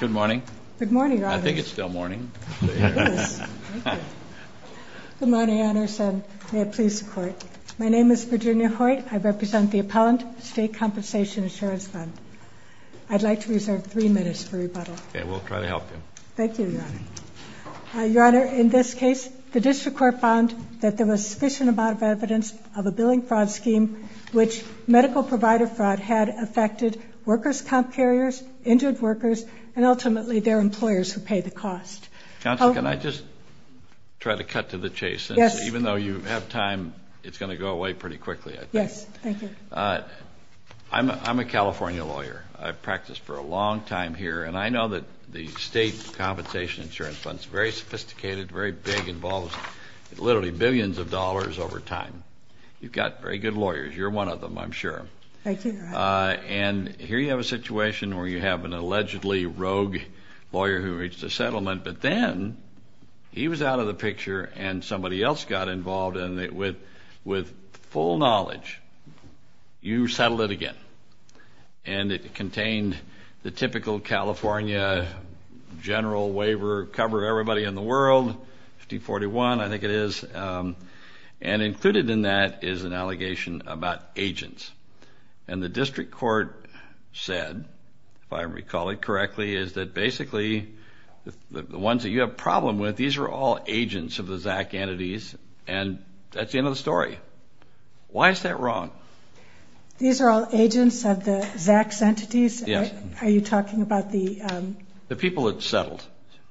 Good morning. Good morning. I think it's still morning. Good morning, Your Honor. May it please the Court. My name is Virginia Hoyt. I represent the appellant, State Compensation Insurance Fund. I'd like to reserve three minutes for rebuttal. Okay, we'll try to help you. Thank you, Your Honor. Your Honor, in this case, the District Court found that there was sufficient amount of evidence of a billing fraud scheme, which medical provider fraud had affected workers' comp carriers, injured workers, and ultimately their employers who pay the cost. Counsel, can I just try to cut to the chase? Yes. Even though you have time, it's gonna go away pretty quickly, I think. Yes, thank you. I'm a California lawyer. I've practiced for a long time here, and I know that the State Compensation Insurance Fund's very sophisticated, very big, involves literally billions of dollars over time. You've got very good lawyers. You're one of them, I'm sure. Thank you, Your Honor. And here you have a situation where you have an allegedly rogue lawyer who reached a settlement, but then he was out of the picture and somebody else got involved, and with full knowledge, you settled it again. And it contained the typical California general waiver, cover everybody in the world, 5041, I think it is. And included in that is an allegation about agents. And the District Court said, if I recall it correctly, is that basically the ones that you have problem with, these are all agents of the ZAC entities, and that's the end of the story. Why is that wrong? These are all agents of the ZAC's entities? Yes. Are you talking about the... The people that settled,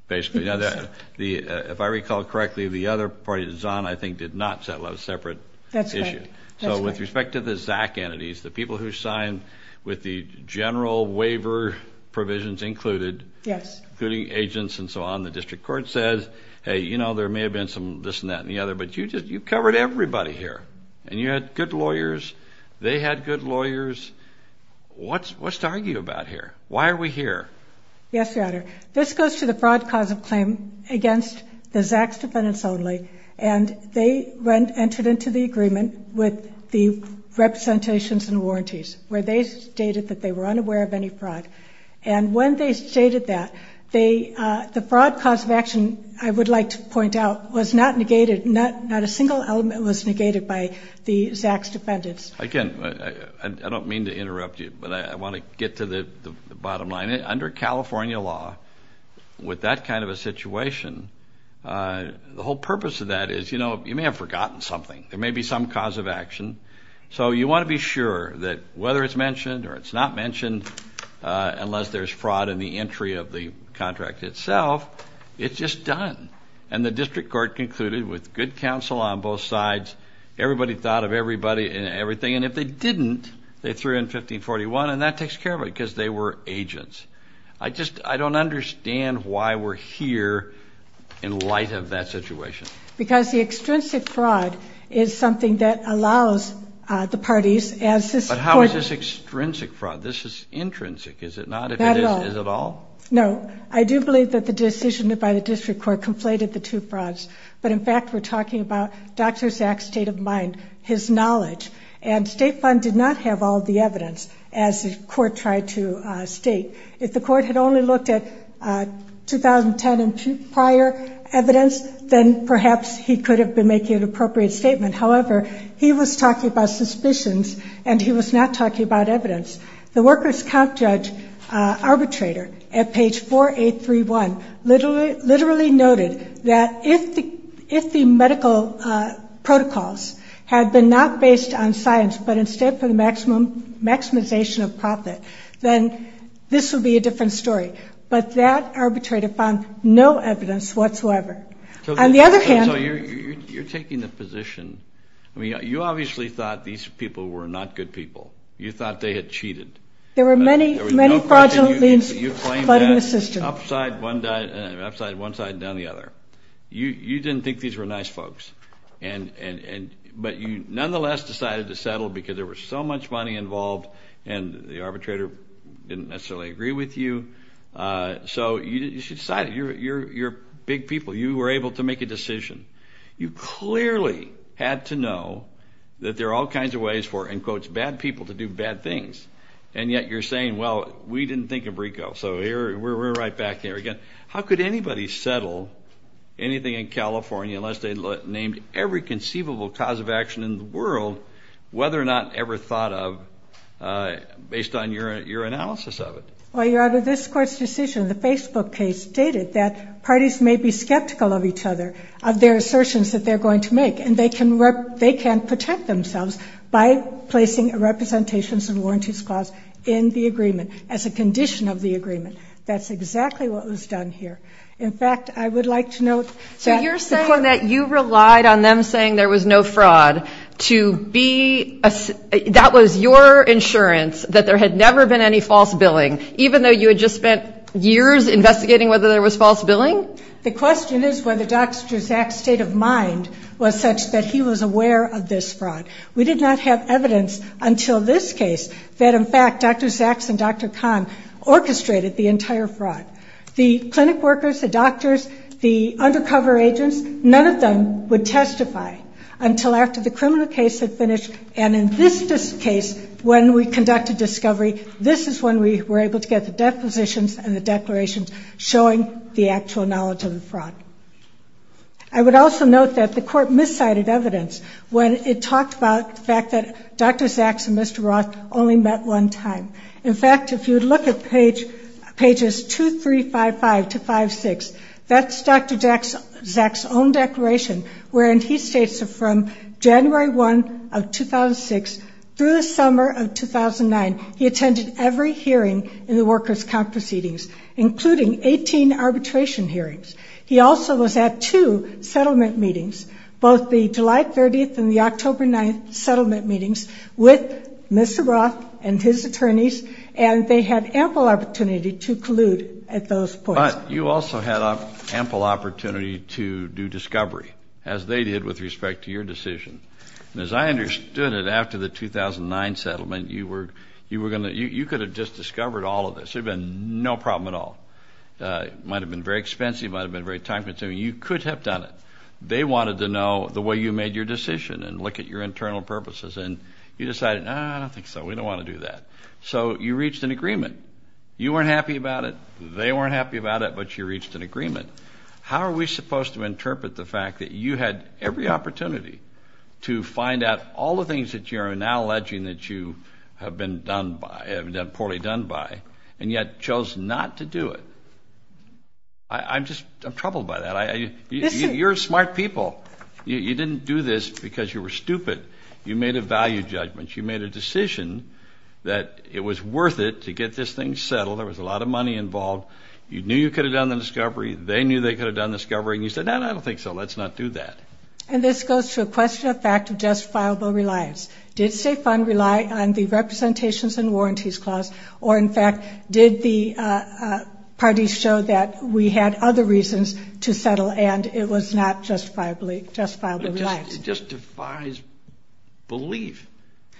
basically. If I recall correctly, the other party, the ZON, I think did not settle, that was a separate issue. That's correct. So with respect to the ZAC entities, the people who signed with the general waiver provisions included... Yes. Including agents and so on, the District Court says, hey, there may have been some this and that and the other, but you covered everybody here. And you had good lawyers, they had good lawyers. What's to argue about here? Why are we here? Yes, Your Honor. This goes to the broad cause of claim against the ZAC's defendants only, and they entered into the agreement with the representations and warranties, where they stated that they were unaware of any fraud. And when they stated that, the fraud cause of action, I would like to point out, was not negated, not a single element was negated by the ZAC's defendants. Again, I don't mean to interrupt you, but I wanna get to the bottom line. Under California law, with that kind of a situation, the whole purpose of that is, you may have forgotten something, there may be some cause of action. So you wanna be sure that whether it's mentioned or it's not mentioned, unless there's fraud in the entry of the contract itself, it's just done. And the District Court concluded, with good counsel on both sides, everybody thought of everybody and everything. And if they didn't, they threw in 1541, and that takes care of it, because they were here in light of that situation. Because the extrinsic fraud is something that allows the parties, as this court... But how is this extrinsic fraud? This is intrinsic, is it not? Is it at all? Not at all. No. I do believe that the decision by the District Court conflated the two frauds. But in fact, we're talking about Dr. ZAC's state of mind, his knowledge. And State Fund did not have all the evidence, as the court tried to state. If the court had only looked at 2010 and prior evidence, then perhaps he could have been making an appropriate statement. However, he was talking about suspicions, and he was not talking about evidence. The workers' comp judge arbitrator, at page 4831, literally noted that if the medical protocols had been not based on science, but instead for the maximization of profit, then this would be a different story. But that arbitrator found no evidence whatsoever. On the other hand... So you're taking the position... I mean, you obviously thought these people were not good people. You thought they had cheated. There were many, many fraudulent... You claimed that upside one side and down the other. You didn't think these were nice folks. But you nonetheless decided to settle, because there was so much money involved, and the arbitrator didn't necessarily agree with you. So you decided, you're big people. You were able to make a decision. You clearly had to know that there are all kinds of ways for, in quotes, bad people to do bad things. And yet you're saying, well, we didn't think of RICO. So we're right back here again. How could anybody settle anything in California unless they named every conceivable cause of action in the world, whether or not ever thought of, based on your analysis of it? Well, Your Honor, this court's decision, the Facebook case, stated that parties may be skeptical of each other, of their assertions that they're going to make, and they can protect themselves by placing a representations and warranties clause in the agreement as a condition of the agreement. That's exactly what was done here. In fact, I would like to note that... So you're saying that you relied on them saying there was no fraud to be... That was your insurance that there had never been any false billing, even though you had just spent years investigating whether there was false billing? The question is whether Dr. Zaks' state of mind was such that he was aware of this fraud. We did not have evidence until this case that, in fact, Dr. Zaks and Dr. Kahn orchestrated the entire fraud. The clinic workers, the doctors, the undercover agents, none of them would testify until after the criminal case had finished. And in this case, when we conducted discovery, this is when we were able to get the depositions and the declarations showing the actual knowledge of the fraud. I would also note that the court miscited evidence when it talked about the fact that Dr. Zaks and Mr. Roth only met one time. In fact, if you'd look at pages 2355 to 56, that's Dr. Zaks' own declaration, wherein he states that from January 1 of 2006 through the summer of 2009, he attended every hearing in the Workers' Conference meetings, including 18 arbitration hearings. He also was at two settlement meetings, both the July 30th and the October 9th settlement meetings with Mr. Roth and his attorneys, and they had ample opportunity to collude at those points. But you also had ample opportunity to do discovery, as they did with respect to your decision. And as I understood it, after the 2009 settlement, you could have just discovered all of this. There'd been no problem at all. It might have been very expensive, it might have been very time consuming. You could have done it. They wanted to know the way you made your decision and look at your internal purposes, and you decided, no, I don't think so, we don't want to do that. So you reached an agreement. You weren't happy about it, they weren't happy about it, but you reached an agreement. How are we supposed to interpret the fact that you had every opportunity to find out all the things that you are now alleging that you have been poorly done by, and yet chose not to do it? I'm troubled by that. You're smart people. You didn't do this because you were stupid. You made a value judgment. You made a decision that it was worth it to get this thing settled. There was a lot of money involved. You knew you could have done the discovery, they knew they could have done the discovery, and you said, no, no, I don't think so, let's not do that. And this goes to a question of fact of justifiable reliance. Did State Fund rely on the Representations and Warranties Clause, or in fact, did the parties show that we had other reasons to settle, and it was not justifiably reliant? It just defies belief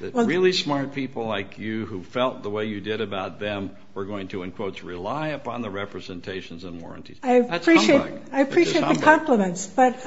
that really smart people like you who felt the way you did about them were going to, in quotes, rely upon the Representations and Warranties. That's humbug. I appreciate the compliments, but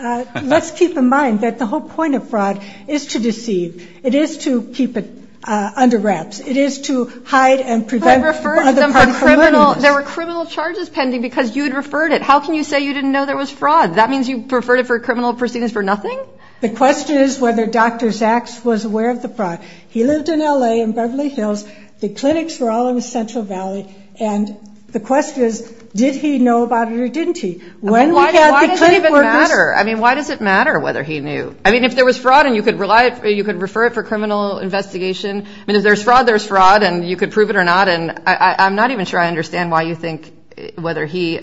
let's keep in mind that the whole point of fraud is to deceive. It is to keep it under wraps. It is to hide and prevent other parties from learning this. Because there were criminal charges pending because you had referred it. How can you say you didn't know there was fraud? That means you referred it for criminal proceedings for nothing? The question is whether Dr. Zaks was aware of the fraud. He lived in L.A. in Beverly Hills. The clinics were all in the Central Valley, and the question is, did he know about it or didn't he? Why does it even matter? I mean, why does it matter whether he knew? I mean, if there was fraud and you could refer it for criminal investigation, I mean, if there's fraud, there's fraud, and you could understand why you think whether he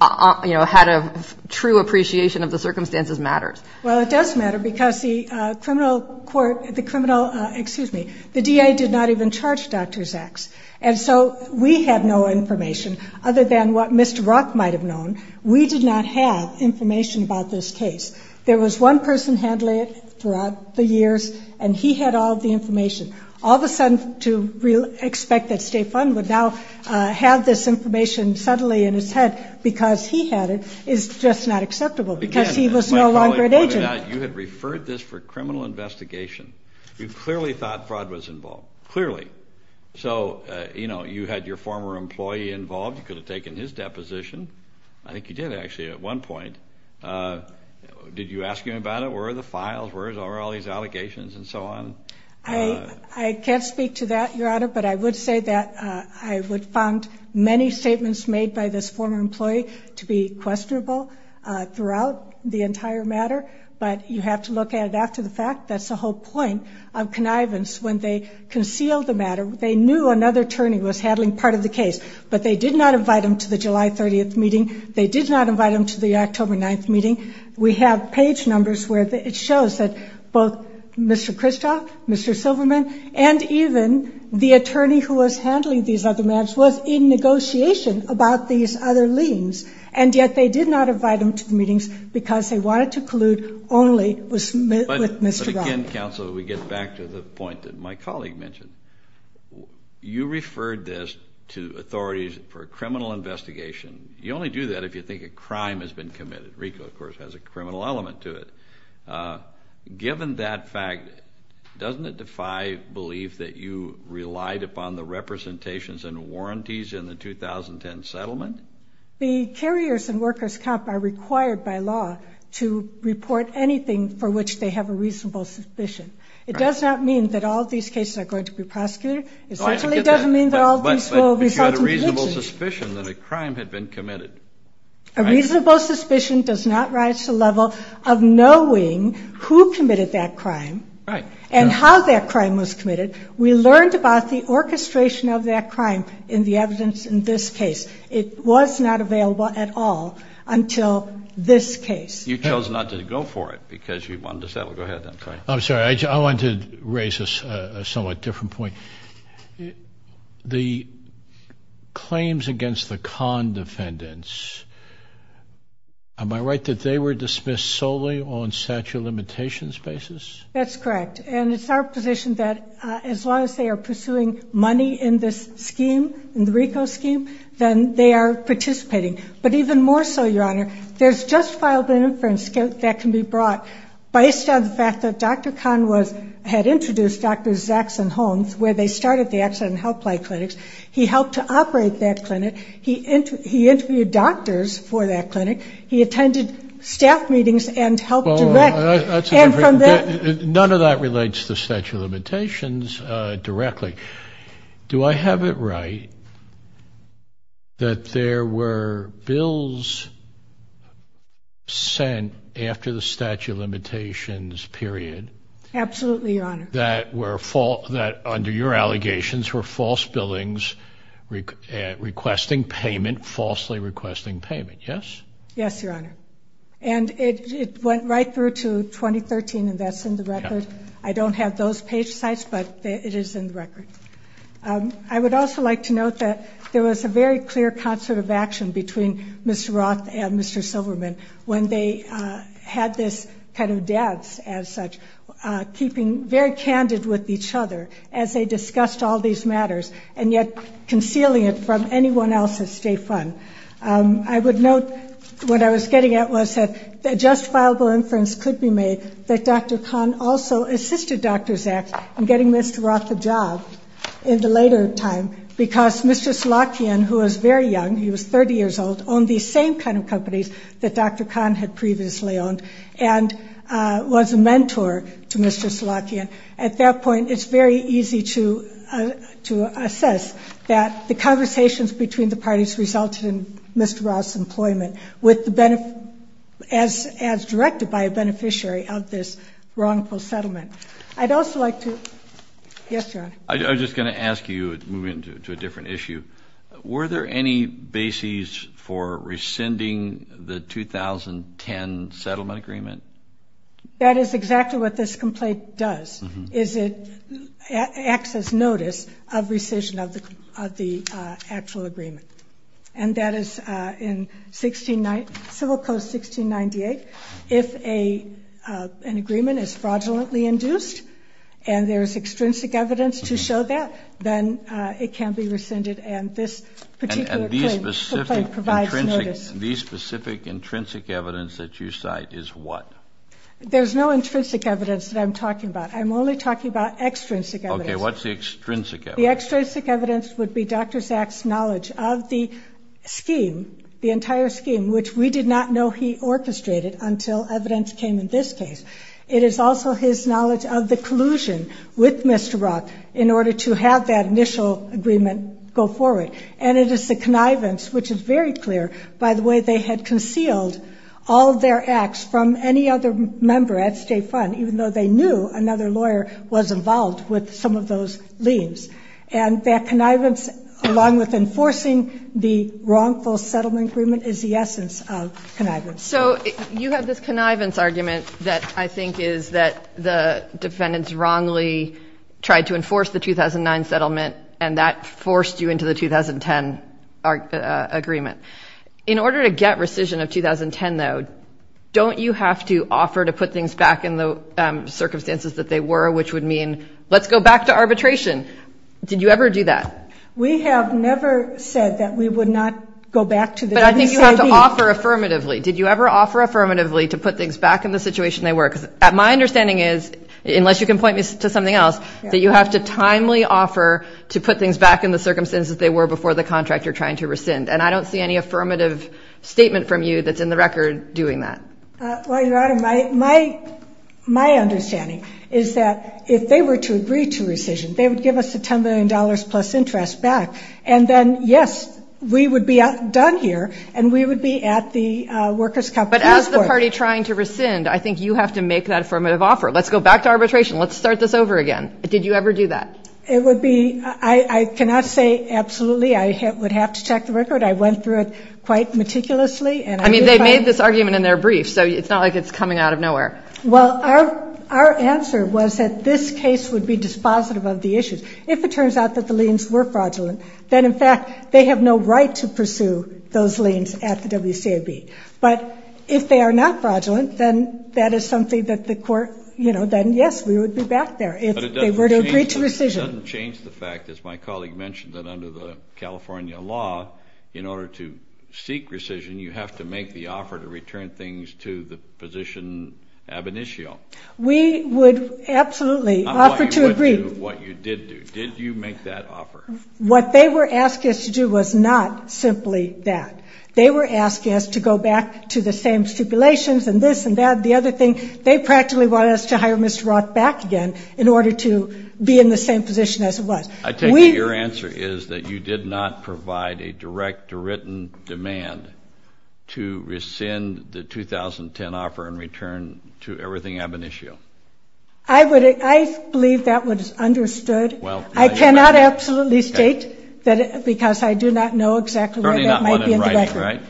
had a true appreciation of the circumstances matters. Well, it does matter because the DA did not even charge Dr. Zaks, and so we had no information other than what Mr. Rock might have known. We did not have information about this case. There was one person handling it throughout the years, and he had all of the information. All of a sudden, to expect that State Fund would now have this information subtly in his head because he had it is just not acceptable because he was no longer an agent. You had referred this for criminal investigation. You clearly thought fraud was involved, clearly. So, you know, you had your former employee involved. You could have taken his deposition. I think you did, actually, at one point. Did you ask him about it? Where are the files? Where are all these allegations and so on? I can't speak to that, Your Honor, but I would say that I would find many statements made by this former employee to be questionable throughout the entire matter, but you have to look at it after the fact. That's the whole point of connivance. When they concealed the matter, they knew another attorney was handling part of the case, but they did not invite him to the July 30th meeting. They did not invite him to the October 9th meeting. We have page numbers where it shows that both Mr. Kristof, Mr. Silverman, and even the attorney who was handling these other matters was in negotiation about these other liens, and yet they did not invite him to the meetings because they wanted to collude only with Mr. Rock. But again, counsel, we get back to the point that my colleague mentioned. You referred this to authorities for a criminal investigation. You only do that if you think a crime has been committed. RICO, of course, has a criminal element to it. Given that fact, doesn't it defy belief that you relied upon the representations and warranties in the 2010 settlement? The carriers and workers' comp are required by law to report anything for which they have a reasonable suspicion. It does not mean that all of these cases are going to be prosecuted. It certainly doesn't mean that all of these will result in... But you had a reasonable suspicion that a crime had been committed. A reasonable suspicion does not rise to the level of knowing who committed that crime and how that crime was committed. We learned about the orchestration of that crime in the evidence in this case. It was not available at all until this case. You chose not to go for it because you wanted to settle... Go ahead, then. Sorry. I'm sorry. I wanted to raise a somewhat different point. The claims against the Kahn defendants, am I right that they were dismissed solely on statute of limitations basis? That's correct. And it's our position that as long as they are pursuing money in this scheme, in the RICO scheme, then they are participating. But even more so, Your Honor, there's just filed an inference that can be brought based on the fact that Dr. Kahn had introduced Dr. Saxon Holmes, where they started the Accident and Helpline Clinics. He helped to operate that clinic. He interviewed doctors for that clinic. He attended staff meetings and helped direct... None of that relates to statute of limitations directly. Do I have it right that there were bills sent after the statute of limitations period... Absolutely, Your Honor. That under your allegations were false billings requesting payment, falsely requesting payment, yes? Yes, Your Honor. And it went right through to 2013, and that's in the record. I don't have those page sites, but it is in the record. I would also like to note that there was a very clear concert of action between Mr. Roth and Mr. Silverman when they had this kind of dance as such, keeping very candid with each other as they discussed all these matters, and yet concealing it from anyone else at State Fund. I would note what I was getting at was that a justifiable inference could be made that Dr. Kahn also assisted Dr. Saxon in getting Mr. Roth a job in the later time because Mrs. Lockian, who was very young, he was 30 years old, owned these same kind of companies that Dr. Kahn had previously owned and was a mentor to Mrs. Lockian. At that point, it's very easy to assess that the conversations between the parties resulted in Mr. Roth's employment as directed by a beneficiary of this wrongful settlement. I'd also like to... Yes, Your Honor. I was just gonna ask you, moving to a different issue, were there any bases for rescinding the 2010 settlement agreement? That is exactly what this complaint does, is it acts as notice of rescission of the actual agreement. And that is in Civil Code 1698, if an agreement is fraudulently induced and there is extrinsic evidence to show that, then it can be rescinded and this particular claim provides notice. And the specific intrinsic evidence that you cite is what? There's no intrinsic evidence that I'm talking about, I'm only talking about extrinsic evidence. Okay, what's the extrinsic evidence? The extrinsic evidence would be Dr. Saxon's knowledge of the scheme, the entire scheme, which we did not know he orchestrated until evidence came in this case. It is also his knowledge of the collusion with Mr. Roth in order to have that initial agreement go forward. And it is the connivance, which is very clear by the way they had concealed all their acts from any other member at State Fund, even though they knew another lawyer was involved with some of those liens. And that connivance along with enforcing the wrongful settlement agreement is the essence of connivance. So you have this connivance argument that I think is that the defendants wrongly tried to enforce the 2009 settlement and that forced you into the 2010 agreement. In order to get rescission of 2010 though, don't you have to offer to put things back in the circumstances that they were, which would mean let's go back to arbitration? Did you ever do that? We have never said that we would not go back to the... But I think you have to offer affirmatively. Did you ever offer affirmatively to put things back in the situation they were? Because my understanding is, unless you can point me to something else, that you have to timely offer to put things back in the circumstances they were before the contract you're trying to rescind. And I don't see any affirmative statement from you that's in the record doing that. Well, Your Honor, my understanding is that if they were to agree to rescission, they would give us the $10 million plus interest back. And then, yes, we would be done here and we would be at the workers' company. But as the party trying to rescind, I think you have to make that affirmative offer. Let's go back to arbitration. Let's start this over again. Did you ever do that? It would be, I cannot say absolutely. I would have to check the record. I went through it quite meticulously. I mean, they made this argument in their brief, so it's not like it's coming out of nowhere. Well, our answer was that this case would be dispositive of the issues. If it turns out that the liens were fraudulent, then in fact, they have no right to pursue those liens at the WCAB. But if they are not fraudulent, then that is something that the court, you know, then yes, we would be back there if they were to agree to rescission. But it doesn't change the fact, as my colleague mentioned, that under the California law, in order to seek rescission, you have to make the offer to return things to the position ab initio. We would absolutely offer to agree. What you did do, did you make that offer? What they were asking us to do was not simply that. They were asking us to go back to the same stipulations and this and that, the other thing. They practically wanted us to hire Mr. Roth back again in order to be in the same position as it was. I take it your answer is that you did not provide a direct written demand to rescind the 2010 offer and return to everything ab initio. I believe that was understood. Well, I cannot absolutely state that because I do not know exactly what that might be in the record.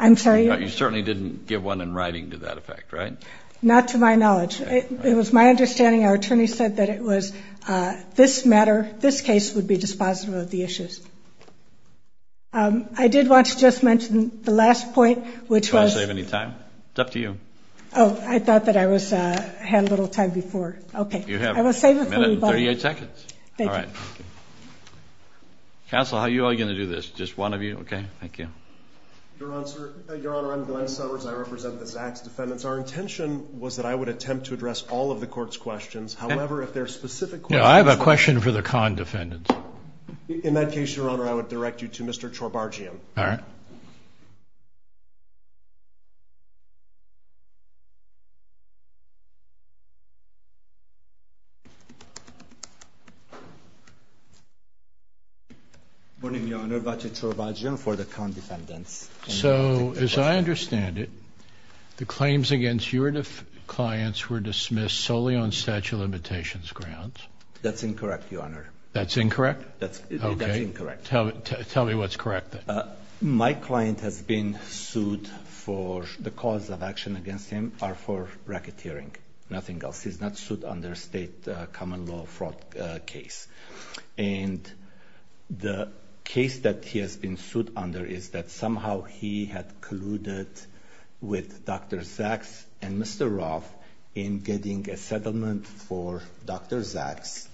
You certainly didn't give one in writing to that effect, right? Not to my knowledge. It was my understanding, our attorney said that it was this matter, this case, would be dispositive of the issues. I did want to just mention the last point, which was... Do you want to save any time? It's up to you. Oh, I thought that I had a little time before. Okay. You have a minute and 38 seconds. All right. Counsel, how are you all going to do this? Just one of you? Okay, thank you. Your Honor, I'm Glenn Summers. I represent the Sachs defendants. Our intention was that I would attempt to address all of the court's questions. However, if there are specific questions... No, I have a question for the Kahn defendants. In that case, your Honor, I would direct you to Mr. Chorbargian. All right. Good morning, your Honor. Vace Chorbargian for the Kahn defendants. So, as I understand it, the claims against your clients were dismissed solely on statute of limitations grounds? That's incorrect, your Honor. That's incorrect? That's incorrect. Okay. Tell me what's correct then. My client has been sued for... The cause of action against him are for racketeering, nothing else. Dr. Sachs is not sued under state common law fraud case. And the case that he has been sued under is that somehow he had colluded with Dr. Sachs and Mr. Roth in getting a settlement for Dr. Sachs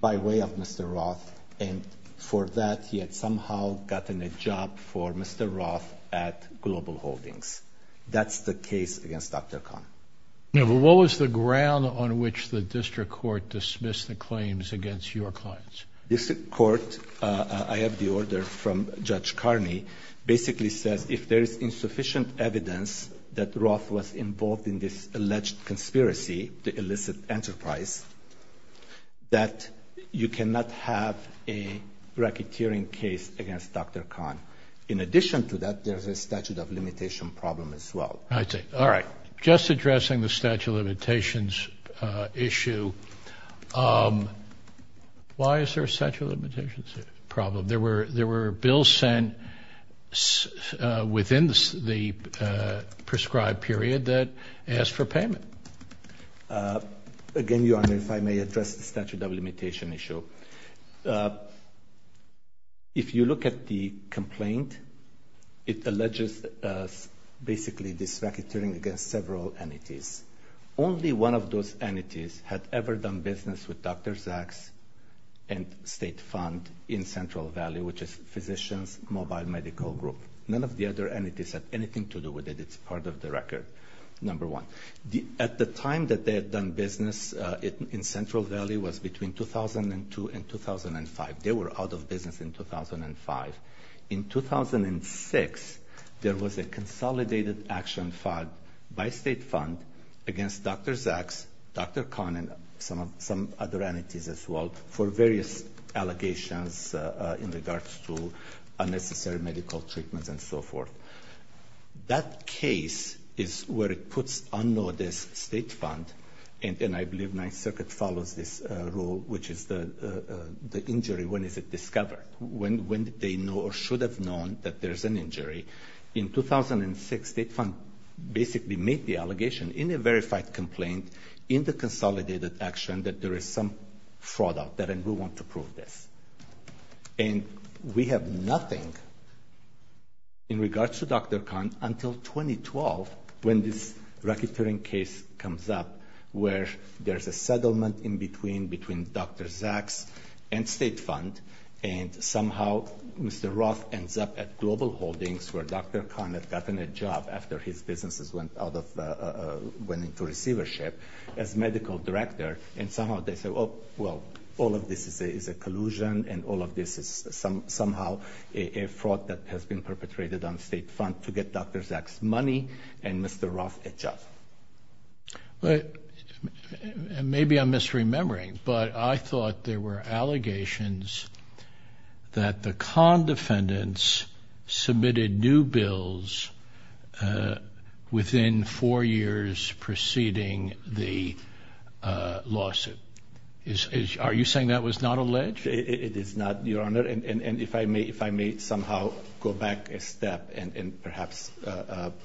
by way of Mr. Roth, and for that, he had somehow gotten a job for Mr. Roth at Global Holdings. That's the case against Dr. Kahn. No, but what was the ground on which the district court dismissed the claims against your clients? District court, I have the order from Judge Carney, basically says if there is insufficient evidence that Roth was involved in this alleged conspiracy, the illicit enterprise, that you cannot have a racketeering case against Dr. Kahn. In addition to that, there's a statute of limitation problem as well. I see. All right. Just addressing the statute of limitations issue, why is there a statute of limitations problem? There were bills sent within the prescribed period that asked for payment. Again, Your Honor, if I may address the statute of limitation issue. If you look at the complaint, it alleges basically this racketeering against several entities. Only one of those entities had ever done business with Dr. Sachs and state fund in Central Valley, which is Physicians Mobile Medical Group. None of the other entities had anything to do with it. It's part of the record, number one. At the time that they had done business in Central Valley was between 2002 and 2005. They were out of business in 2005. In 2006, there was a consolidated action filed by state fund against Dr. Sachs, Dr. Kahn, and some other entities as well for various allegations in regards to unnecessary medical treatments and so forth. That case is where it puts unnoticed state fund, and I believe Ninth Circuit follows this rule, which is the injury, when is it discovered? When did they know or should have known that there's an injury? In 2006, state fund basically made the allegation in a verified complaint in the consolidated action that there is some fraud out there, and we want to prove this. And we have nothing in regards to Dr. Kahn until 2012 when this racketeering case comes up where there's a settlement in between Dr. Sachs and state fund, and somehow Mr. Roth ends up at Global Holdings where Dr. Kahn had gotten a job after his businesses went into receivership as medical director. And somehow they say, oh, well, all of this is a collusion and all of this is somehow a fraud that has been perpetrated on state fund to get Dr. Sachs money and Mr. Roth a job. Maybe I'm misremembering, but I thought there were allegations that the Kahn defendants submitted new bills within four years preceding the lawsuit. Are you saying that was not alleged? It is not, Your Honor, and if I may somehow go back a step and perhaps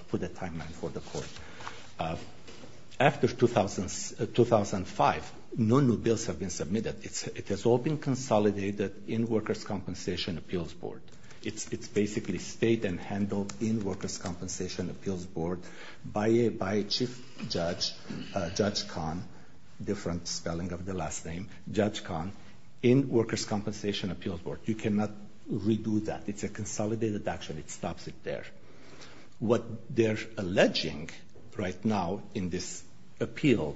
put a timeline for the court. You cannot redo that. It's a consolidated action. It stops it there. What they're alleging right now in this appeal,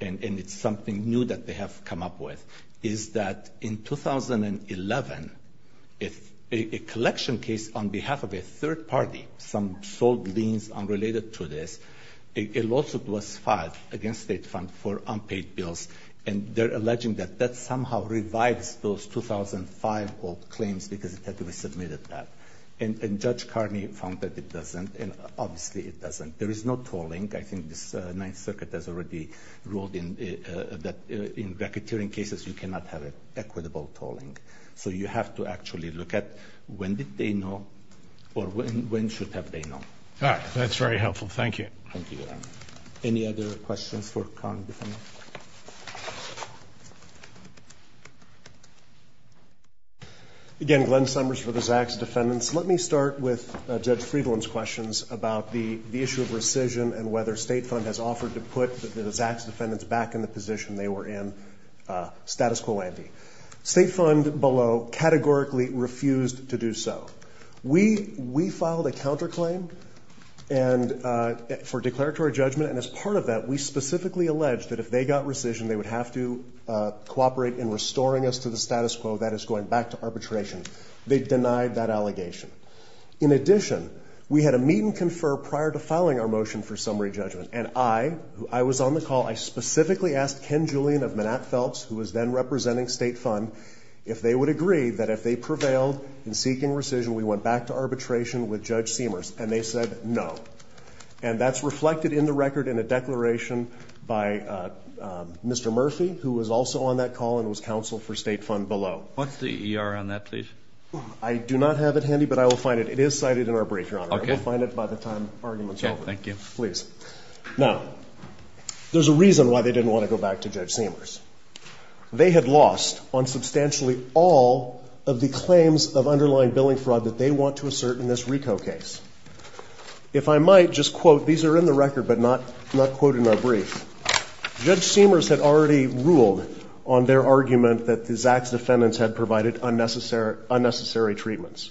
and it's something new that they have come up with, is that in 2011, a collection case on behalf of a third party, some sold liens unrelated to this, a lawsuit was filed against state fund for unpaid bills. And they're alleging that that somehow revives those 2005 old claims because it had to be submitted that. And Judge Carney found that it doesn't, and obviously it doesn't. There is no tolling. I think this Ninth Circuit has already ruled in that in racketeering cases, you cannot have an equitable tolling. So you have to actually look at when did they know or when should have they known. All right. That's very helpful. Thank you. Thank you, Your Honor. Any other questions for Kahn defendants? Again, Glenn Summers for the Zacks defendants. Let me start with Judge Friedland's questions about the issue of rescission and whether state fund has offered to put the Zacks defendants back in the position they were in, status quo ante. State fund below categorically refused to do so. We filed a counterclaim for declaratory judgment, and as part of that, we specifically alleged that if they got rescission, they would have to cooperate in restoring us to the status quo, that is going back to arbitration. They denied that allegation. In addition, we had a meet and confer prior to filing our motion for summary judgment. And I, I was on the call, I specifically asked Ken Julian of Manat Phelps, who was then representing state fund, if they would agree that if they prevailed in seeking rescission, we went back to arbitration with Judge Seamers. And they said no. And that's reflected in the record in a declaration by Mr. Murphy, who was also on that call and was counsel for state fund below. What's the EER on that, please? I do not have it handy, but I will find it. It is cited in our brief, Your Honor. I will find it by the time argument's over. Thank you. Please. Now, there's a reason why they didn't want to go back to Judge Seamers. They had lost on substantially all of the claims of underlying billing fraud that they want to assert in this RICO case. If I might, just quote, these are in the record, but not, not quoted in our brief. Judge Seamers had already ruled on their argument that the Zach's defendants had provided unnecessary, unnecessary treatments.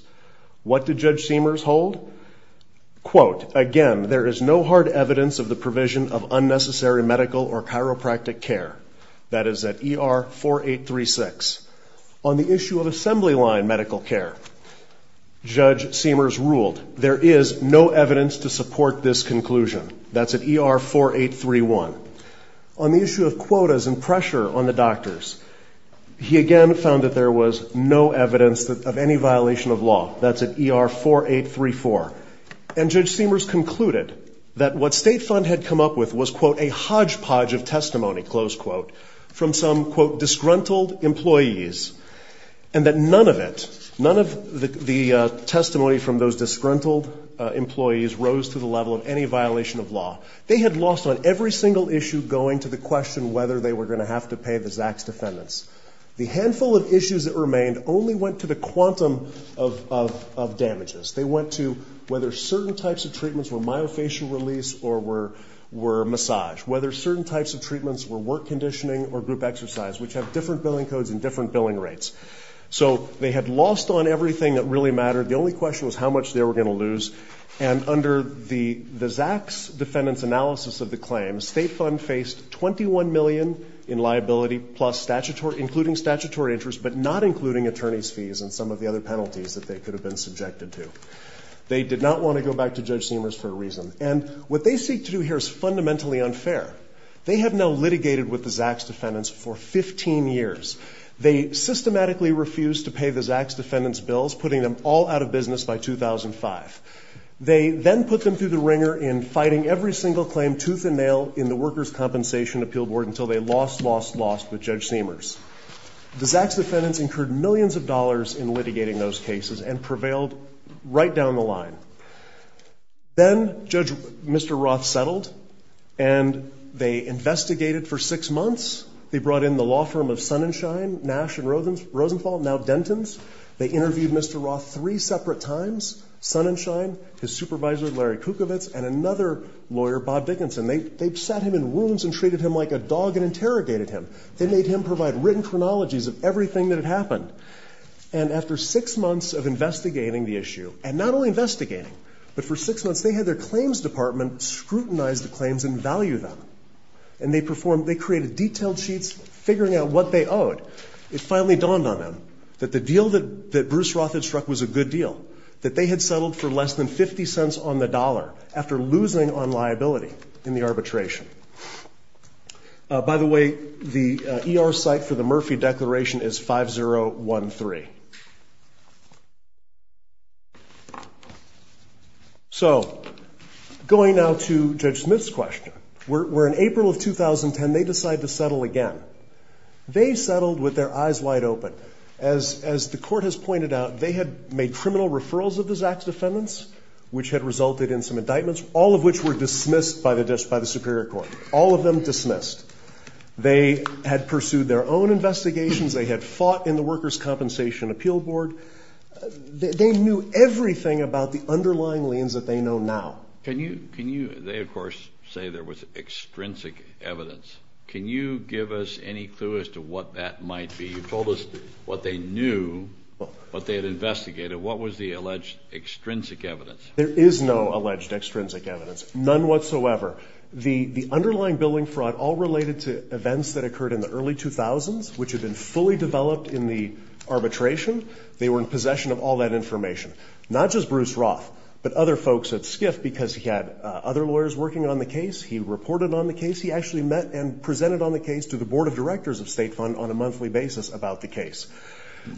What did Judge Seamers hold? Quote, again, there is no hard evidence of the provision of unnecessary medical or chiropractic care. That is at ER 4836. On the issue of assembly line medical care, Judge Seamers ruled there is no evidence to support this conclusion. That's at ER 4831. On the issue of quotas and pressure on the doctors, he again found that there was no evidence of any violation of law. That's at ER 4834. And Judge Seamers concluded that what State Fund had come up with was, quote, a hodgepodge of testimony, close quote, from some, quote, disgruntled employees. And that none of it, none of the testimony from those disgruntled employees rose to the level of any violation of law. They had lost on every single issue going to the question whether they were going to have to pay the Zach's defendants. The handful of issues that remained only went to the quantum of damages. They went to whether certain types of treatments were myofascial release or were massage, whether certain types of treatments were work conditioning or group exercise, which have different billing codes and different billing rates. So they had lost on everything that really mattered. The only question was how much they were going to lose. And under the Zach's defendants analysis of the claim, State Fund faced $21 million in liability plus statutory, including statutory interest, but not including attorney's fees and some of the other penalties that they could have been subjected to. They did not want to go back to Judge Seamers for a reason. And what they seek to do here is fundamentally unfair. They have now litigated with the Zach's defendants for 15 years. They systematically refused to pay the Zach's defendants' bills, putting them all out of business by 2005. They then put them through the wringer in fighting every single claim, tooth and nail, in the Workers' Compensation Appeal Board until they lost, lost, lost with Judge Seamers. The Zach's defendants incurred millions of dollars in litigating those cases and prevailed right down the line. Then Judge, Mr. Roth settled, and they investigated for six months. They brought in the law firm of Sun and Shine, Nash and Rosenthal, now Denton's. They interviewed Mr. Roth three separate times, Sun and Shine, his supervisor, Larry Kukovitz, and another lawyer, Bob Dickinson. They, they sat him in wounds and treated him like a dog and interrogated him. They made him provide written chronologies of everything that had happened. And after six months of investigating the issue, and not only investigating, but for six months they had their claims department scrutinize the claims and value them. And they performed, they created detailed sheets figuring out what they owed. It finally dawned on them that the deal that, that Bruce Roth had struck was a good deal, that they had settled for less than 50 cents on the dollar after losing on liability in the arbitration. By the way, the ER site for the Murphy Declaration is 5013. So, going now to Judge Smith's question, where in April of 2010 they decide to settle again. They settled with their eyes wide open. As, as the court has pointed out, they had made criminal referrals of the Zach's defendants, which had resulted in some indictments, all of which were dismissed by the Superior Court. All of them dismissed. They had pursued their own investigations. They had fought in the Workers' Compensation Appeal Board. They knew everything about the underlying liens that they know now. Can you, can you, they of course say there was extrinsic evidence. Can you give us any clue as to what that might be? You told us what they knew, what they had investigated. What was the alleged extrinsic evidence? There is no alleged extrinsic evidence. None whatsoever. The, the underlying billing fraud all related to events that occurred in the early 2000s, which had been fully developed in the arbitration. They were in possession of all that information. Not just Bruce Roth, but other folks at SCIF because he had other lawyers working on the case. He reported on the case. He actually met and presented on the case to the Board of Directors of State Fund on a monthly basis about the case.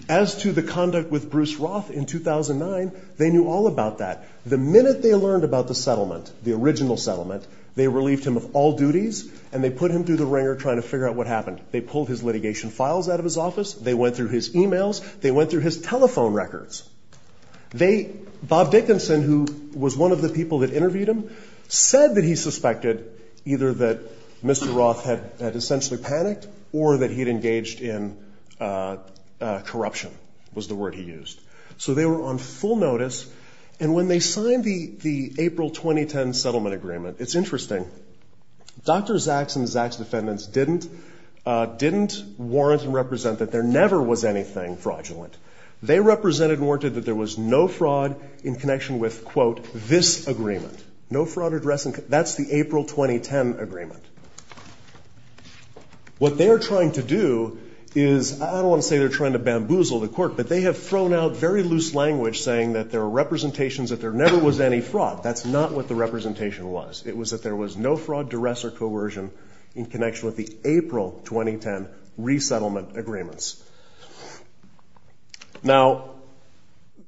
As to the conduct with Bruce Roth in 2009, they knew all about that. The minute they learned about the settlement, the original settlement, they relieved him of all duties and they put him through the wringer trying to figure out what happened. They pulled his litigation files out of his office. They went through his emails. They went through his telephone records. They, Bob Dickinson, who was one of the people that interviewed him, said that he suspected either that Mr. Roth had essentially panicked or that he had engaged in corruption was the word he used. So they were on full notice. And when they signed the, the April 2010 settlement agreement, it's interesting. Dr. Zaks and Zaks' defendants didn't, didn't warrant and represent that there never was anything fraudulent. They represented and warranted that there was no fraud in connection with, quote, this agreement. No fraud addressing, that's the April 2010 agreement. What they are trying to do is, I don't want to say they're trying to bamboozle the court, but they have thrown out very loose language saying that there are representations that there never was any fraud. That's not what the representation was. It was that there was no fraud, duress, or coercion in connection with the April 2010 resettlement agreements. Now,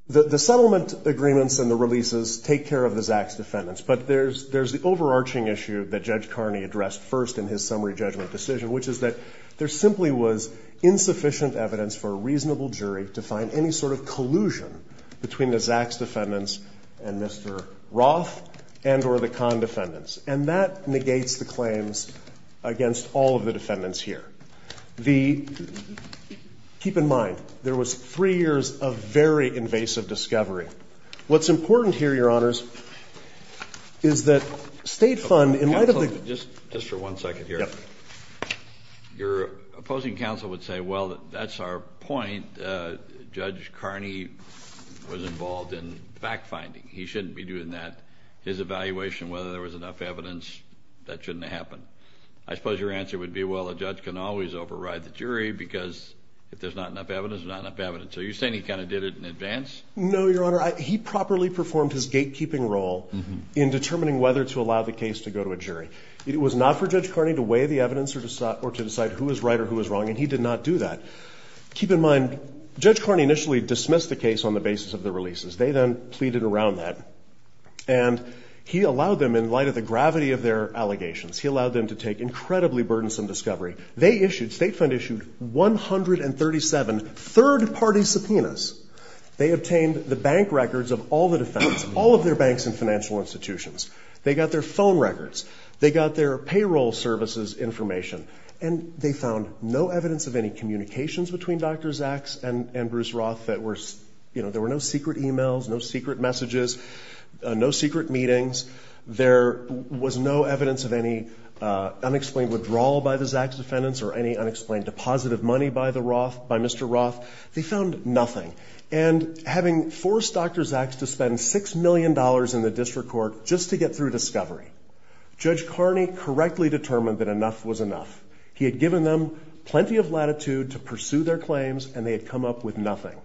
the, the settlement agreements and the releases take care of the Zaks' defendants, but there's, there's the overarching issue that Judge Carney addressed first in his summary judgment decision, which is that there simply was insufficient evidence for a reasonable jury to find any sort of collusion between the Zaks' defendants and Mr. Roth and or the Kahn defendants. And that negates the claims against all of the defendants here. The, keep in mind, there was three years of very invasive discovery. What's important here, Your Honors, is that State Fund, in light of the- Counsel, just, just for one second here. Yep. Your opposing counsel would say, well, that's our point. Judge Carney was involved in fact-finding. He shouldn't be doing that. His evaluation, whether there was enough evidence, that shouldn't have happened. I suppose your answer would be, well, a judge can always override the jury because if there's not enough evidence, there's not enough evidence. So you're saying he kind of did it in advance? No, Your Honor. He properly performed his gatekeeping role in determining whether to allow the case to go to a jury. It was not for Judge Carney to weigh the evidence or to decide who was right or who was wrong, and he did not do that. Keep in mind, Judge Carney initially dismissed the case on the basis of the releases. They then pleaded around that. And he allowed them, in light of the gravity of their allegations, he allowed them to take incredibly burdensome discovery. They issued, State Fund issued 137 third-party subpoenas. They obtained the bank records of all the defendants, all of their banks and financial institutions. They got their phone records. They got their payroll services information. And they found no evidence of any communications between Dr. Zaks and Bruce Roth that were, you know, there were no secret e-mails, no secret messages, no secret meetings. There was no evidence of any unexplained withdrawal by the Zaks defendants or any unexplained deposit of money by the Roth, by Mr. Roth. They found nothing. And having forced Dr. Zaks to spend $6 million in the district court just to get through discovery, Judge Carney correctly determined that enough was enough. He had given them plenty of latitude to pursue their claims, and they had come up with nothing.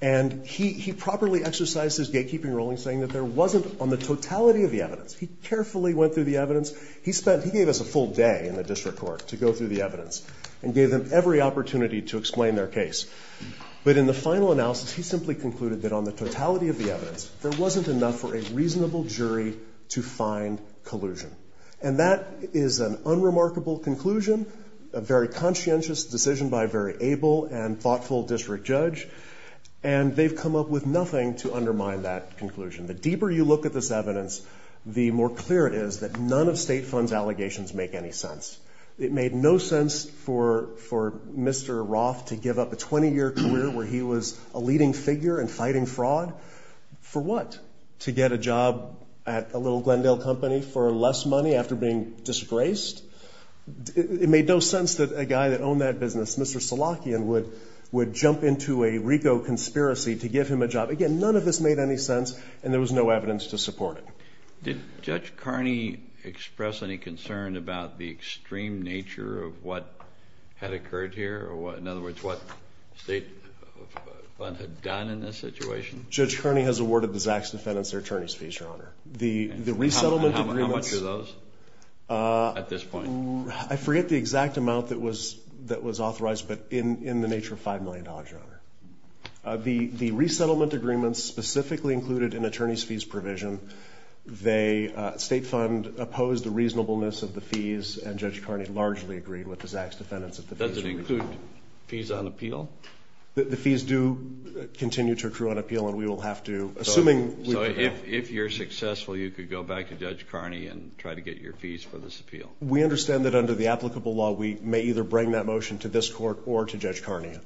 And he properly exercised his gatekeeping ruling, saying that there wasn't on the totality of the evidence. He carefully went through the evidence. He gave us a full day in the district court to go through the evidence and gave them every opportunity to explain their case. But in the final analysis, he simply concluded that on the totality of the evidence, there wasn't enough for a reasonable jury to find collusion. And that is an unremarkable conclusion, a very conscientious decision by a very able and thoughtful district judge. And they've come up with nothing to undermine that conclusion. The deeper you look at this evidence, the more clear it is that none of state funds' allegations make any sense. It made no sense for Mr. Roth to give up a 20-year career where he was a leading figure in fighting fraud. For what? To get a job at a little Glendale company for less money after being disgraced? It made no sense that a guy that owned that business, Mr. Salakian, would jump into a RICO conspiracy to give him a job. Again, none of this made any sense, and there was no evidence to support it. Did Judge Kearney express any concern about the extreme nature of what had occurred here? In other words, what state funds had done in this situation? Judge Kearney has awarded the Zacks defendants their attorney's fees, Your Honor. How much are those at this point? I forget the exact amount that was authorized, but in the nature of $5 million, Your Honor. The resettlement agreements specifically included an attorney's fees provision. The state fund opposed the reasonableness of the fees, and Judge Kearney largely agreed with the Zacks defendants that the fees were included. Does it include fees on appeal? The fees do continue to accrue on appeal, and we will have to, assuming we do have to. So if you're successful, you could go back to Judge Kearney and try to get your fees for this appeal? We understand that under the applicable law, we may either bring that motion to this court or to Judge Kearney.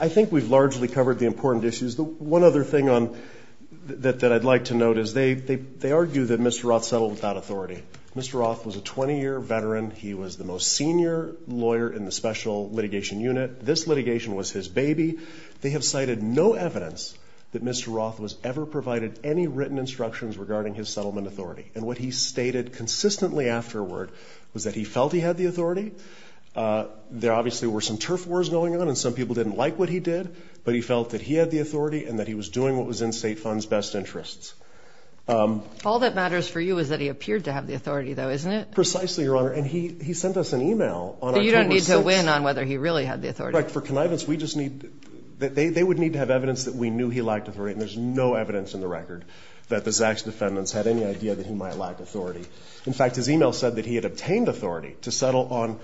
I think we've largely covered the important issues. One other thing that I'd like to note is they argue that Mr. Roth settled without authority. Mr. Roth was a 20-year veteran. He was the most senior lawyer in the special litigation unit. This litigation was his baby. They have cited no evidence that Mr. Roth was ever provided any written instructions regarding his settlement authority, and what he stated consistently afterward was that he felt he had the authority. There obviously were some turf wars going on, and some people didn't like what he did, but he felt that he had the authority and that he was doing what was in state funds' best interests. All that matters for you is that he appeared to have the authority, though, isn't it? Precisely, Your Honor, and he sent us an email on October 6th. So you don't need to win on whether he really had the authority? You're correct. For connivance, they would need to have evidence that we knew he lacked authority, and there's no evidence in the record that the Zacks defendants had any idea that he might lack authority. In fact, his email said that he had obtained authority to settle on,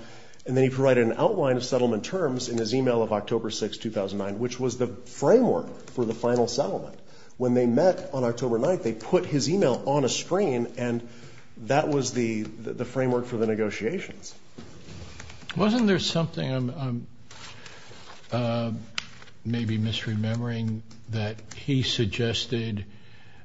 and then he provided an outline of settlement terms in his email of October 6th, 2009, which was the framework for the final settlement. When they met on October 9th, they put his email on a screen, and that was the framework for the negotiations. Wasn't there something I'm maybe misremembering that he suggested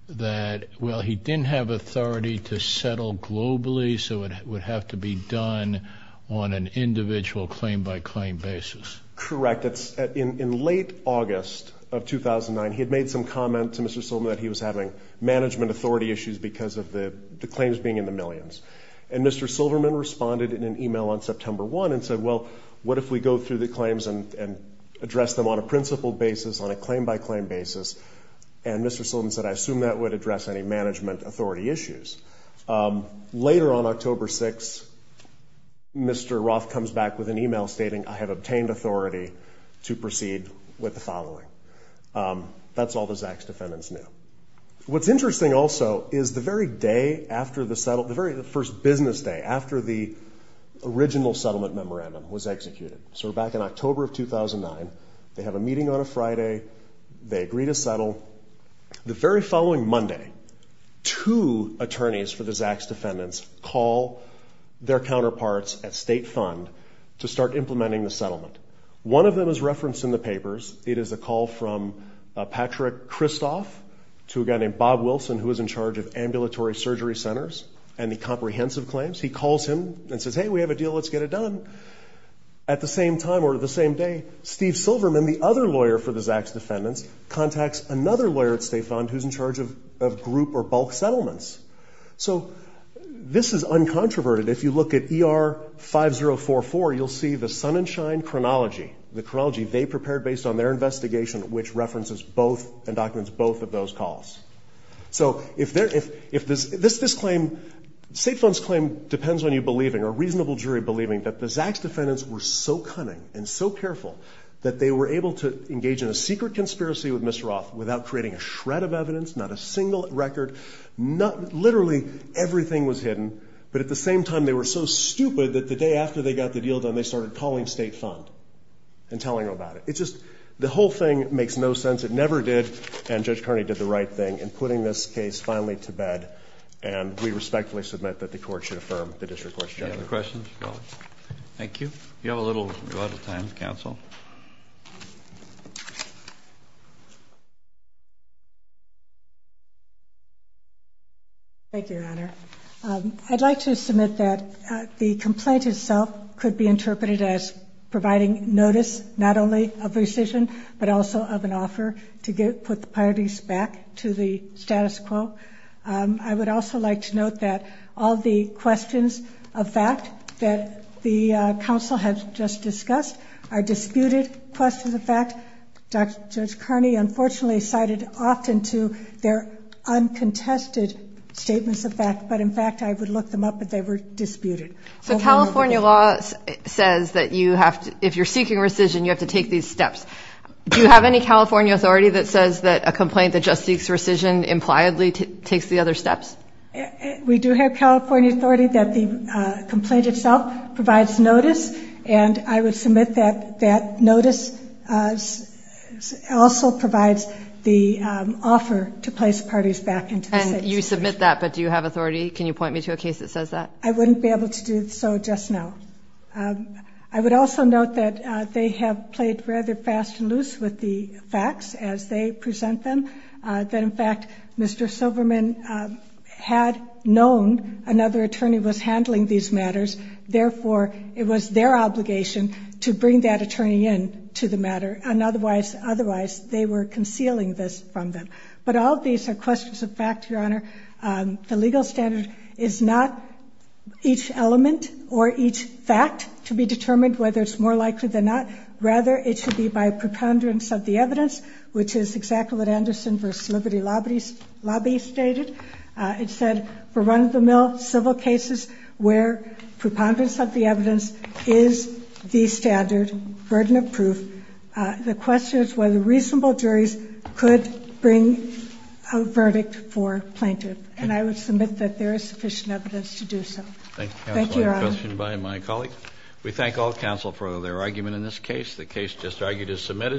that, well, he didn't have authority to settle globally, so it would have to be done on an individual claim-by-claim basis? Correct. In late August of 2009, he had made some comment to Mr. Silverman that he was having management authority issues because of the claims being in the millions, and Mr. Silverman responded in an email on September 1 and said, well, what if we go through the claims and address them on a principled basis, on a claim-by-claim basis? And Mr. Silverman said, I assume that would address any management authority issues. Later on October 6th, Mr. Roth comes back with an email stating, I have obtained authority to proceed with the following. That's all the Zacks defendants knew. What's interesting also is the very day after the settle, the very first business day after the original settlement memorandum was executed. So we're back in October of 2009. They have a meeting on a Friday. They agree to settle. The very following Monday, two attorneys for the Zacks defendants call their counterparts at State Fund to start implementing the settlement. One of them is referenced in the papers. It is a call from Patrick Kristoff to a guy named Bob Wilson, who is in charge of ambulatory surgery centers and the comprehensive claims. He calls him and says, hey, we have a deal. Let's get it done. At the same time or the same day, Steve Silverman, the other lawyer for the Zacks defendants, contacts another lawyer at State Fund who's in charge of group or bulk settlements. So this is uncontroverted. If you look at ER 5044, you'll see the sun and shine chronology, the chronology they prepared based on their investigation, which references both and documents both of those calls. So if this claim, State Fund's claim depends on you believing or a reasonable jury believing that the Zacks defendants were so cunning and so careful that they were able to engage in a secret conspiracy with Ms. Roth without creating a shred of evidence, not a single record. Literally everything was hidden. But at the same time, they were so stupid that the day after they got the deal done, they started calling State Fund and telling them about it. It's just the whole thing makes no sense. It never did, and Judge Kearney did the right thing in putting this case finally to bed, and we respectfully submit that the court should affirm the district court's judgment. Any other questions? No. Thank you. Thank you, Your Honor. I'd like to submit that the complaint itself could be interpreted as providing notice, not only of rescission, but also of an offer to put the parties back to the status quo. I would also like to note that all the questions of fact that the counsel has just discussed are disputed questions of fact. Judge Kearney unfortunately cited often to their uncontested statements of fact, but in fact I would look them up if they were disputed. So California law says that if you're seeking rescission, you have to take these steps. Do you have any California authority that says that a complaint that just seeks rescission impliedly takes the other steps? We do have California authority that the complaint itself provides notice, and I would submit that that notice also provides the offer to place parties back into the status quo. And you submit that, but do you have authority? Can you point me to a case that says that? I wouldn't be able to do so just now. I would also note that they have played rather fast and loose with the facts as they present them, that in fact Mr. Silverman had known another attorney was handling these matters, therefore it was their obligation to bring that attorney in to the matter, and otherwise they were concealing this from them. But all of these are questions of fact, Your Honor. The legal standard is not each element or each fact to be determined whether it's more likely than not. Rather, it should be by preponderance of the evidence, which is exactly what Anderson v. Liberty Lobby stated. It said for run-of-the-mill civil cases where preponderance of the evidence is the standard, burden of proof, the question is whether reasonable juries could bring a verdict for plaintiff. And I would submit that there is sufficient evidence to do so. Thank you, Your Honor. Thank you, Counsel. A question by my colleague. We thank all counsel for their argument in this case. The case just argued is submitted.